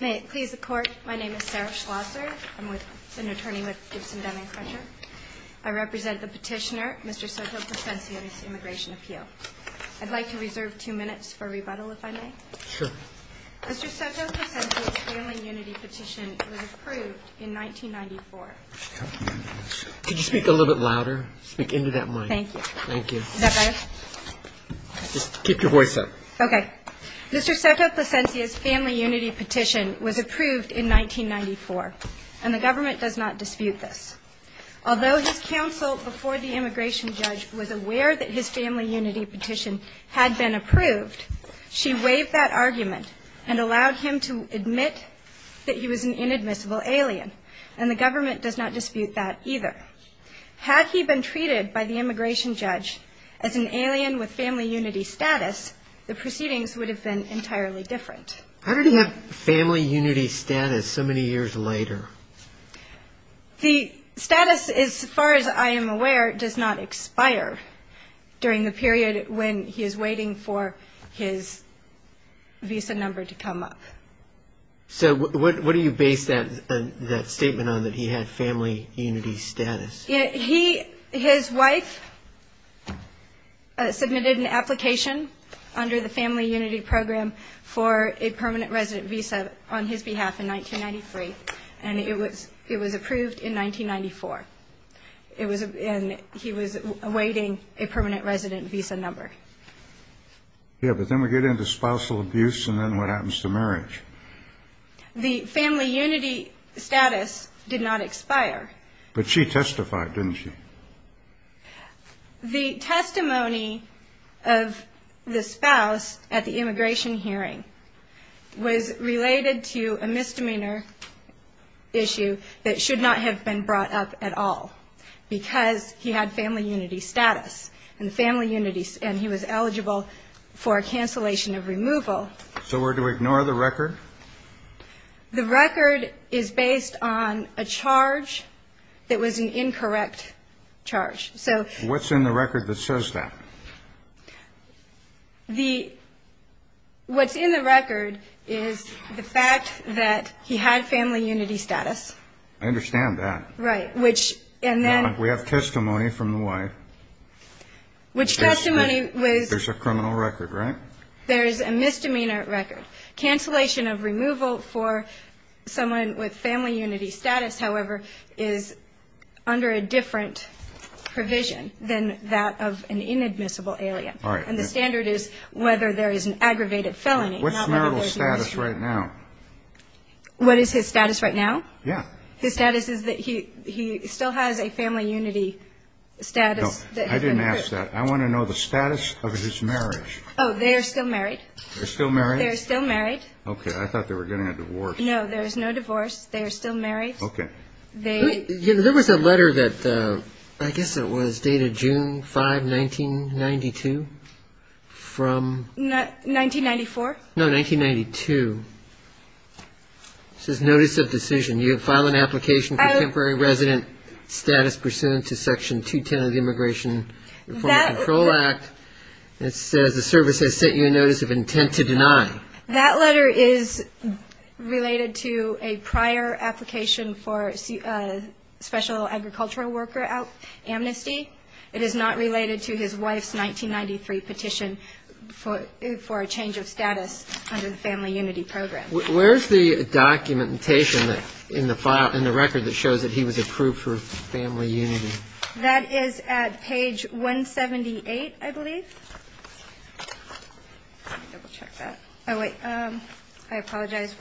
May it please the Court, my name is Sarah Schlosser. I'm with an attorney with Gibson-Denman Crutcher. I represent the petitioner, Mr. Soto Placencia's immigration appeal. I'd like to reserve two minutes for rebuttal, if I may. Sure. Mr. Soto Placencia's family unity petition was approved in 1994. Could you speak a little bit louder? Speak into that mic. Thank you. Thank you. Is that better? Just keep your voice up. Okay. Mr. Soto Placencia's family unity petition was approved in 1994, and the government does not dispute this. Although his counsel before the immigration judge was aware that his family unity petition had been approved, she waived that argument and allowed him to admit that he was an inadmissible alien, and the government does not dispute that either. Had he been treated by the immigration judge as an alien with family unity status, the proceedings would have been entirely different. How did he have family unity status so many years later? The status, as far as I am aware, does not expire during the period when he is waiting for his visa number to come up. So what do you base that statement on, that he had family unity status? His wife submitted an application under the family unity program for a permanent resident visa on his behalf in 1993, and it was approved in 1994, and he was awaiting a permanent resident visa number. Yeah, but then we get into spousal abuse, and then what happens to marriage? The family unity status did not expire. But she testified, didn't she? The testimony of the spouse at the immigration hearing was related to a misdemeanor issue that should not have been brought up at all because he had family unity status, and he was eligible for a cancellation of removal. So we're to ignore the record? The record is based on a charge that was an incorrect charge. What's in the record that says that? What's in the record is the fact that he had family unity status. I understand that. Right. We have testimony from the wife. Which testimony was? There's a criminal record, right? There is a misdemeanor record. Cancellation of removal for someone with family unity status, however, is under a different provision than that of an inadmissible alien. All right. And the standard is whether there is an aggravated felony. What's marital status right now? What is his status right now? Yeah. His status is that he still has a family unity status. I didn't ask that. I want to know the status of his marriage. Oh, they are still married. They're still married? They're still married. Okay. I thought they were getting a divorce. No, there is no divorce. They are still married. Okay. There was a letter that I guess it was dated June 5, 1992, from 1994? No, 1992. It says notice of decision. You have filed an application for temporary resident status pursuant to Section 210 of the Immigration Reform and Control Act. It says the service has sent you a notice of intent to deny. That letter is related to a prior application for special agricultural worker amnesty. It is not related to his wife's 1993 petition for a change of status under the family unity program. Where is the documentation in the record that shows that he was approved for family unity? That is at page 178, I believe. Let me double check that. Oh, wait. I apologize.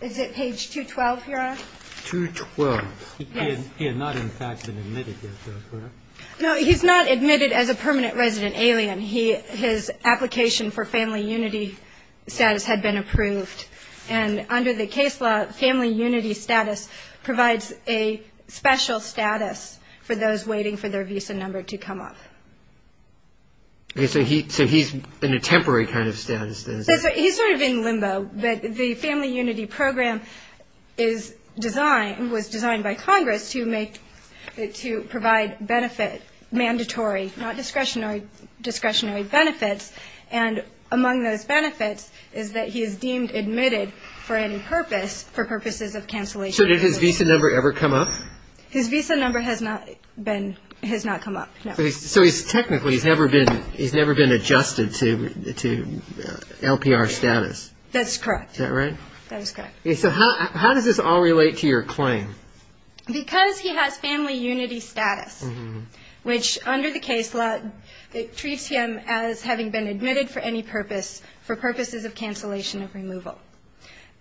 Is it page 212, Your Honor? 212. Yes. He had not in fact been admitted yet, though, correct? No, he's not admitted as a permanent resident alien. His application for family unity status had been approved. And under the case law, family unity status provides a special status for those waiting for their visa number to come up. So he's in a temporary kind of status, then? He's sort of in limbo. But the family unity program is designed, was designed by Congress to make, to provide benefit, mandatory, not discretionary benefits. And among those benefits is that he is deemed admitted for any purpose, for purposes of cancellation. So did his visa number ever come up? His visa number has not been, has not come up, no. So he's technically, he's never been, he's never been adjusted to LPR status. That's correct. Is that right? That is correct. So how does this all relate to your claim? Because he has family unity status, which under the case law, it treats him as having been admitted for any purpose, for purposes of cancellation of removal.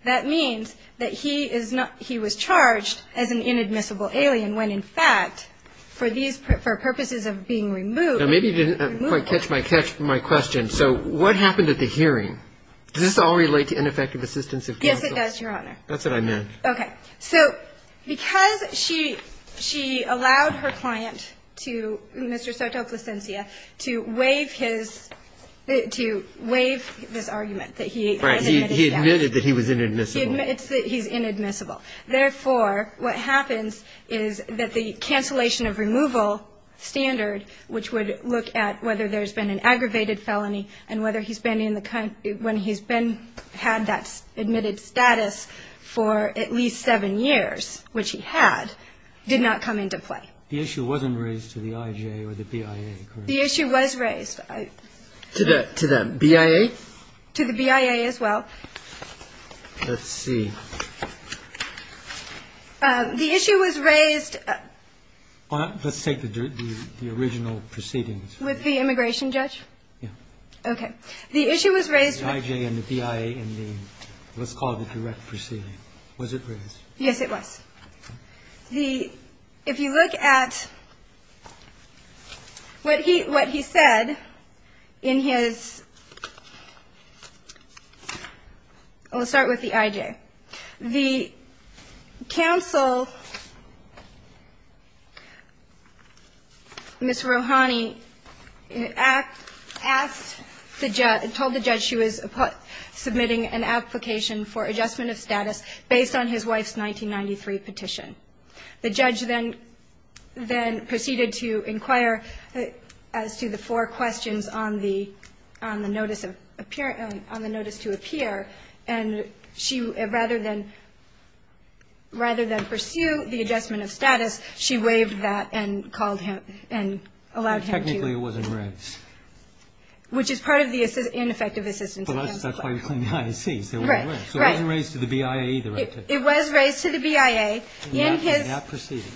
That means that he is not, he was charged as an inadmissible alien, when in fact for these, for purposes of being removed. Now maybe you didn't quite catch my question. So what happened at the hearing? Does this all relate to ineffective assistance of counsel? Yes, it does, Your Honor. That's what I meant. Okay. So because she allowed her client to, Mr. Soto Plasencia, to waive his, to waive this argument that he was admitted. He admitted that he was inadmissible. He's inadmissible. Therefore, what happens is that the cancellation of removal standard, which would look at whether there's been an aggravated felony and whether he's been in the, when he's been, had that admitted status for at least seven years, which he had, did not come into play. The issue wasn't raised to the IJA or the BIA, correct? The issue was raised. To the BIA? To the BIA as well. Let's see. The issue was raised. Let's take the original proceedings. With the immigration judge? Yeah. Okay. The issue was raised. The IJA and the BIA in the, let's call it the direct proceeding. Was it raised? Yes, it was. The, if you look at what he, what he said in his, let's start with the IJA. The counsel, Ms. Rohani, asked the judge, told the judge she was submitting an application for adjustment of status based on his wife's 1993 petition. The judge then, then proceeded to inquire as to the four questions on the, on the notice of, on the notice to appear, and she, rather than, rather than pursue the adjustment of status, she waived that and called him and allowed him to. But technically it wasn't raised. Which is part of the ineffective assistance. Well, that's why you claim the IAC. Right, right. So it wasn't raised to the BIA either. It was raised to the BIA in his. In that proceeding.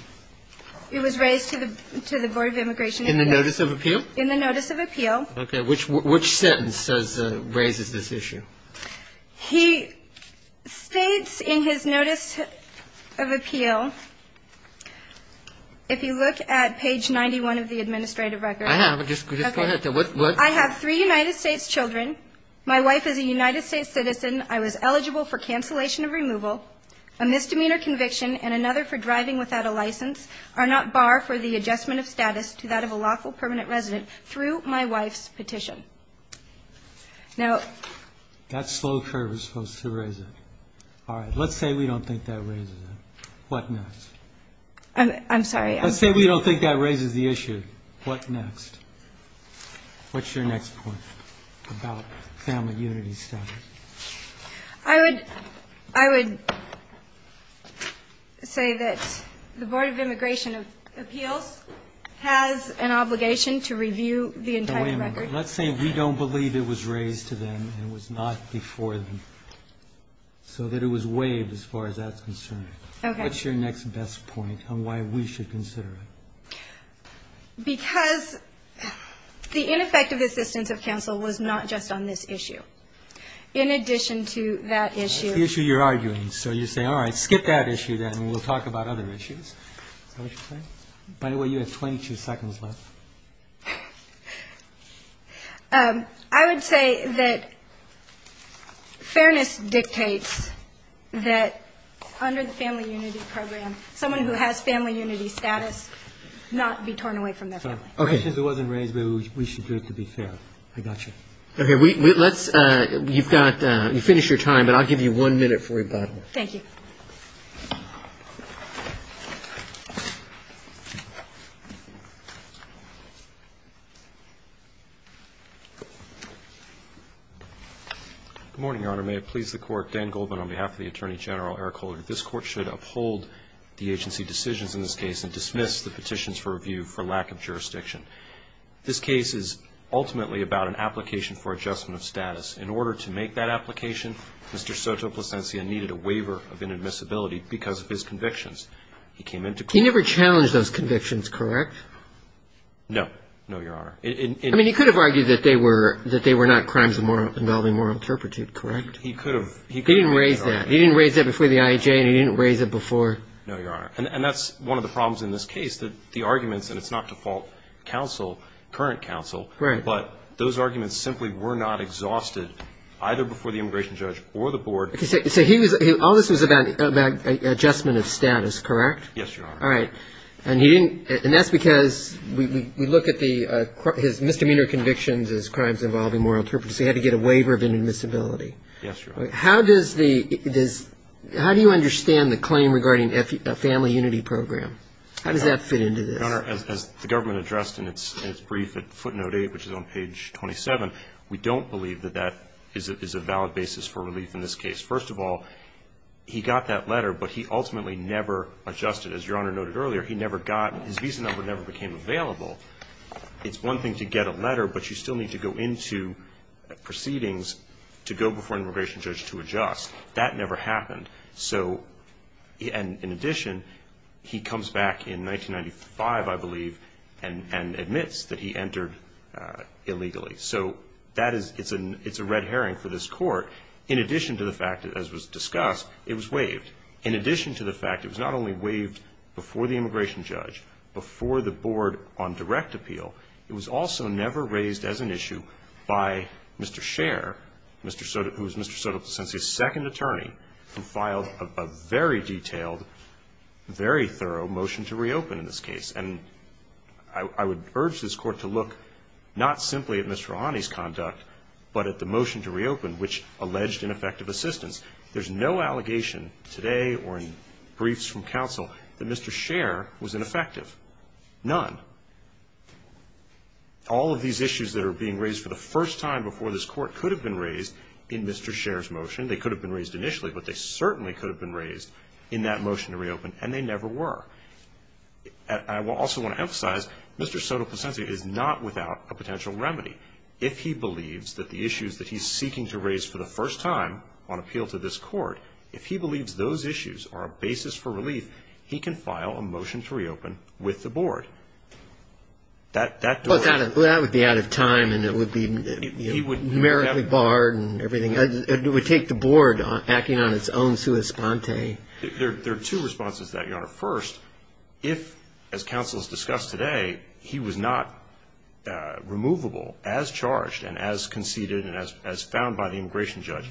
It was raised to the, to the Board of Immigration. In the notice of appeal? In the notice of appeal. Okay, which, which sentence says, raises this issue? He states in his notice of appeal, if you look at page 91 of the administrative record. I have. Just, just go ahead. I have three United States children. My wife is a United States citizen. I was eligible for cancellation of removal, a misdemeanor conviction, and another for driving without a license, are not bar for the adjustment of status to that of a lawful permanent resident through my wife's petition. Now. That slow curve is supposed to raise it. All right. Let's say we don't think that raises it. What next? I'm, I'm sorry. Let's say we don't think that raises the issue. What next? What's your next point about family unity status? I would, I would say that the Board of Immigration of Appeals has an obligation to review the entire record. Wait a minute. Let's say we don't believe it was raised to them and it was not before them. So that it was waived as far as that's concerned. Okay. What's your next best point on why we should consider it? Because the ineffective assistance of counsel was not just on this issue. In addition to that issue. The issue you're arguing. So you say, all right, skip that issue then and we'll talk about other issues. Is that what you're saying? By the way, you have 22 seconds left. I would say that fairness dictates that under the family unity program, someone who has family unity status not be torn away from their family. Okay. Because it wasn't raised, we should do it to be fair. I got you. Okay. Let's, you've got, you finished your time, but I'll give you one minute for rebuttal. Thank you. Good morning, Your Honor. May it please the Court. Dan Goldman on behalf of the Attorney General Eric Holder. This Court should uphold the agency decisions in this case and dismiss the petitions for review for lack of jurisdiction. This case is ultimately about an application for adjustment of status. In order to make that application, Mr. Soto Plasencia needed a waiver of inadmissibility because of his convictions. He came into court. He never challenged those convictions, correct? No. No, Your Honor. I mean, he could have argued that they were not crimes involving moral turpitude, correct? He could have. He didn't raise that. He didn't raise that before the IAJ and he didn't raise it before. No, Your Honor. And that's one of the problems in this case, that the arguments, and it's not default counsel, current counsel. Right. But those arguments simply were not exhausted either before the immigration judge or the board. So he was, all this was about adjustment of status, correct? Yes, Your Honor. All right. And he didn't, and that's because we look at his misdemeanor convictions as crimes involving moral turpitude, so he had to get a waiver of inadmissibility. Yes, Your Honor. How does the, how do you understand the claim regarding a family unity program? How does that fit into this? Your Honor, as the government addressed in its brief at footnote 8, which is on page 27, we don't believe that that is a valid basis for relief in this case. First of all, he got that letter, but he ultimately never adjusted. As Your Honor noted earlier, he never got, his visa number never became available. It's one thing to get a letter, but you still need to go into proceedings to go before an immigration judge to adjust. That never happened. So, and in addition, he comes back in 1995, I believe, and admits that he entered illegally. So that is, it's a red herring for this Court. In addition to the fact, as was discussed, it was waived. In addition to the fact it was not only waived before the immigration judge, before the board on direct appeal, it was also never raised as an issue by Mr. Scher, Mr. Soto, who is Mr. Soto's second attorney, who filed a very detailed, very thorough motion to reopen in this case. And I would urge this Court to look not simply at Mr. Rahani's conduct, but at the motion to reopen, which alleged ineffective assistance. There's no allegation today or in briefs from counsel that Mr. Scher was ineffective. None. All of these issues that are being raised for the first time before this Court could have been raised in Mr. Scher's motion. They could have been raised initially, but they certainly could have been raised in that motion to reopen, and they never were. I also want to emphasize, Mr. Soto Placencia is not without a potential remedy. If he believes that the issues that he's seeking to raise for the first time on appeal to this Court, if he believes those issues are a basis for relief, he can file a motion to reopen with the board. That would be out of time, and it would be numerically barred and everything. It would take the board acting on its own sua sponte. First, if, as counsel has discussed today, he was not removable as charged and as conceded and as found by the immigration judge,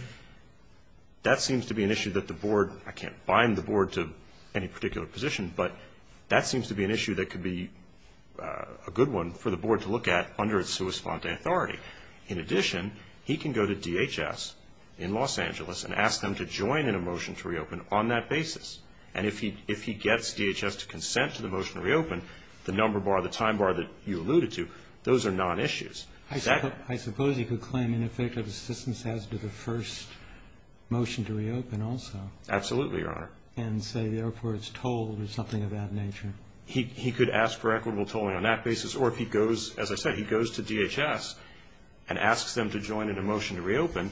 that seems to be an issue that the board, I can't bind the board to any particular position, but that seems to be an issue that could be a good one for the board to look at under its sua sponte authority. In addition, he can go to DHS in Los Angeles and ask them to join in a motion to reopen on that basis. And if he gets DHS to consent to the motion to reopen, the number bar, the time bar that you alluded to, those are non-issues. I suppose he could claim ineffective assistance as to the first motion to reopen also. Absolutely, Your Honor. And say the airport's tolled or something of that nature. He could ask for equitable tolling on that basis, or if he goes, as I said, he goes to DHS and asks them to join in a motion to reopen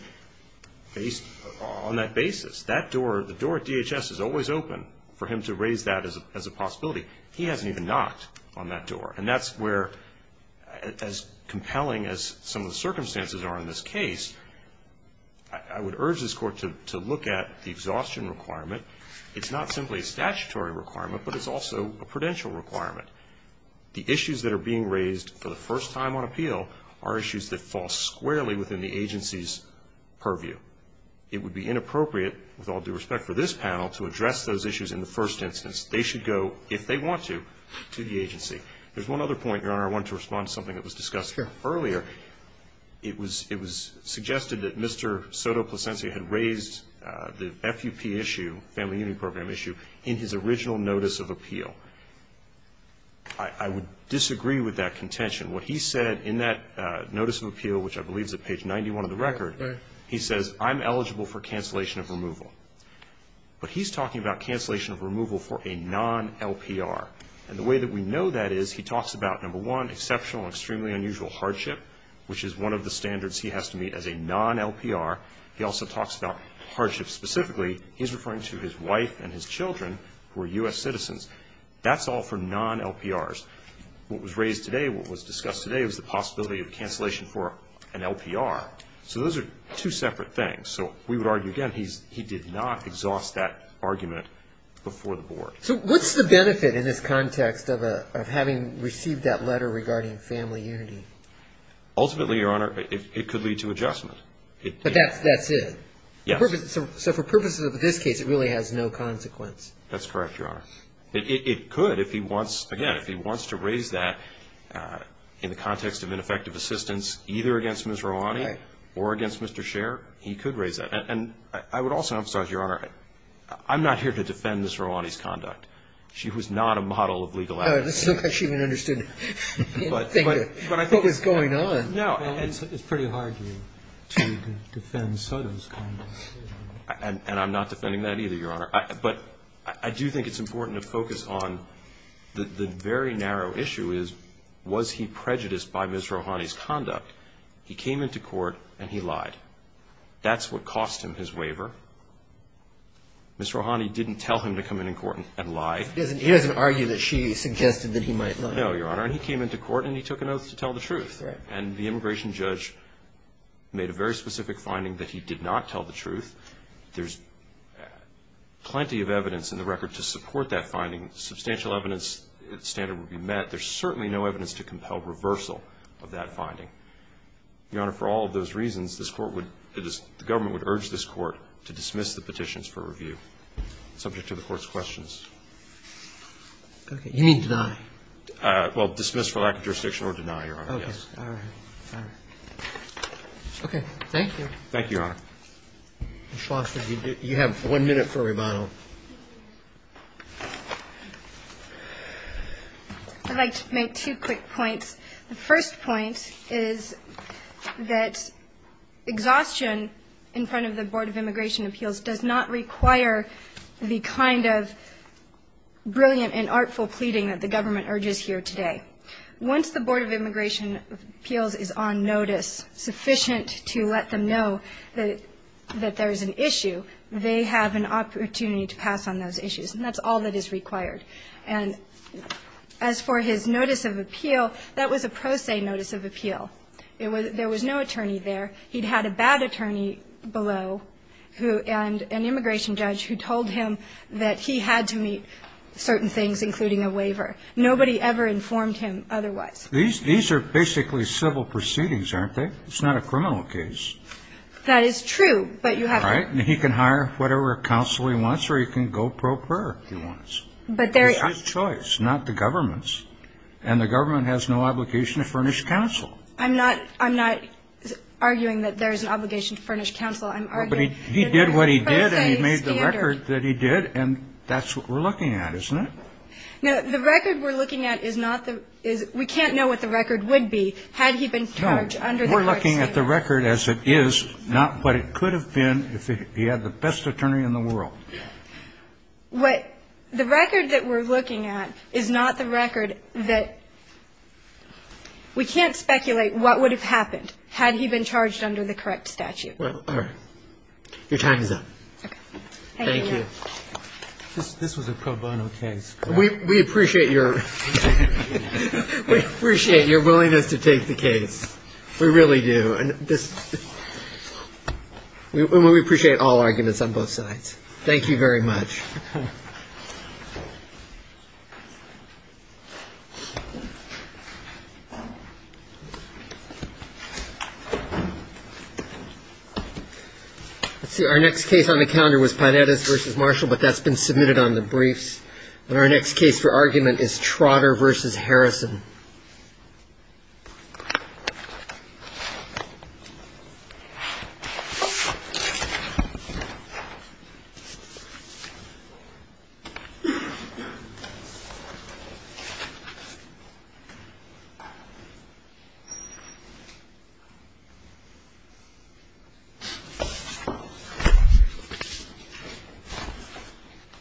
on that basis. That door, the door at DHS is always open for him to raise that as a possibility. He hasn't even knocked on that door. And that's where, as compelling as some of the circumstances are in this case, I would urge this Court to look at the exhaustion requirement. It's not simply a statutory requirement, but it's also a prudential requirement. The issues that are being raised for the first time on appeal are issues that fall squarely within the agency's purview. It would be inappropriate, with all due respect for this panel, to address those issues in the first instance. They should go, if they want to, to the agency. There's one other point, Your Honor, I wanted to respond to something that was discussed earlier. Sure. It was suggested that Mr. Soto-Placencia had raised the FUP issue, Family Union Program issue, in his original notice of appeal. I would disagree with that contention. What he said in that notice of appeal, which I believe is at page 91 of the record, he says, I'm eligible for cancellation of removal. But he's talking about cancellation of removal for a non-LPR. And the way that we know that is he talks about, number one, exceptional and extremely unusual hardship, which is one of the standards he has to meet as a non-LPR. He also talks about hardship specifically. He's referring to his wife and his children, who are U.S. citizens. That's all for non-LPRs. What was raised today, what was discussed today, was the possibility of cancellation for an LPR. So those are two separate things. So we would argue, again, he did not exhaust that argument before the board. So what's the benefit in this context of having received that letter regarding family unity? Ultimately, Your Honor, it could lead to adjustment. But that's it? Yes. So for purposes of this case, it really has no consequence? That's correct, Your Honor. It could. If he wants, again, if he wants to raise that in the context of ineffective assistance, either against Ms. Romani or against Mr. Scherr, he could raise that. And I would also emphasize, Your Honor, I'm not here to defend Ms. Romani's conduct. She was not a model of legal advocacy. No, that's not how she even understood what was going on. No. It's pretty hard to defend Sotomayor's conduct. And I'm not defending that either, Your Honor. But I do think it's important to focus on the very narrow issue is, was he prejudiced by Ms. Romani's conduct? He came into court and he lied. That's what cost him his waiver. Ms. Romani didn't tell him to come into court and lie. He doesn't argue that she suggested that he might lie. No, Your Honor. And he came into court and he took an oath to tell the truth. And the immigration judge made a very specific finding that he did not tell the truth. There's plenty of evidence in the record to support that finding. Substantial evidence standard would be met. There's certainly no evidence to compel reversal of that finding. Your Honor, for all of those reasons, this Court would – the government would urge this Court to dismiss the petitions for review, subject to the Court's questions. Okay. You mean deny? Well, dismiss for lack of jurisdiction or deny, Your Honor. Okay. All right. All right. Okay. Thank you. Thank you, Your Honor. Ms. Foster, you have one minute for a rebuttal. I'd like to make two quick points. The first point is that exhaustion in front of the Board of Immigration Appeals does not require the kind of brilliant and artful pleading that the government urges here today. Once the Board of Immigration Appeals is on notice sufficient to let them know that there is an issue, they have an opportunity to pass on those issues. And that's all that is required. And as for his notice of appeal, that was a pro se notice of appeal. There was no attorney there. He'd had a bad attorney below and an immigration judge who told him that he had to meet certain things, including a waiver. Nobody ever informed him otherwise. These are basically civil proceedings, aren't they? It's not a criminal case. That is true. But you have to. All right. And he can hire whatever counsel he wants or he can go pro prairie if he wants. But there is a choice, not the government's. And the government has no obligation to furnish counsel. I'm not arguing that there is an obligation to furnish counsel. I'm arguing that there is a pro se standard. But he did what he did and he made the record that he did, and that's what we're looking at, isn't it? No. The record we're looking at is not the we can't know what the record would be had he been charged under the correct statute. No. We're looking at the record as it is, not what it could have been if he had the best attorney in the world. What the record that we're looking at is not the record that we can't speculate what would have happened had he been charged under the correct statute. All right. Your time is up. Okay. Thank you. This was a pro bono case. We appreciate your willingness to take the case. We really do. And we appreciate all arguments on both sides. Thank you very much. Okay. Let's see. Our next case on the calendar was Pinedas v. Marshall, but that's been submitted on the briefs. And our next case for argument is Trotter v. Harrison.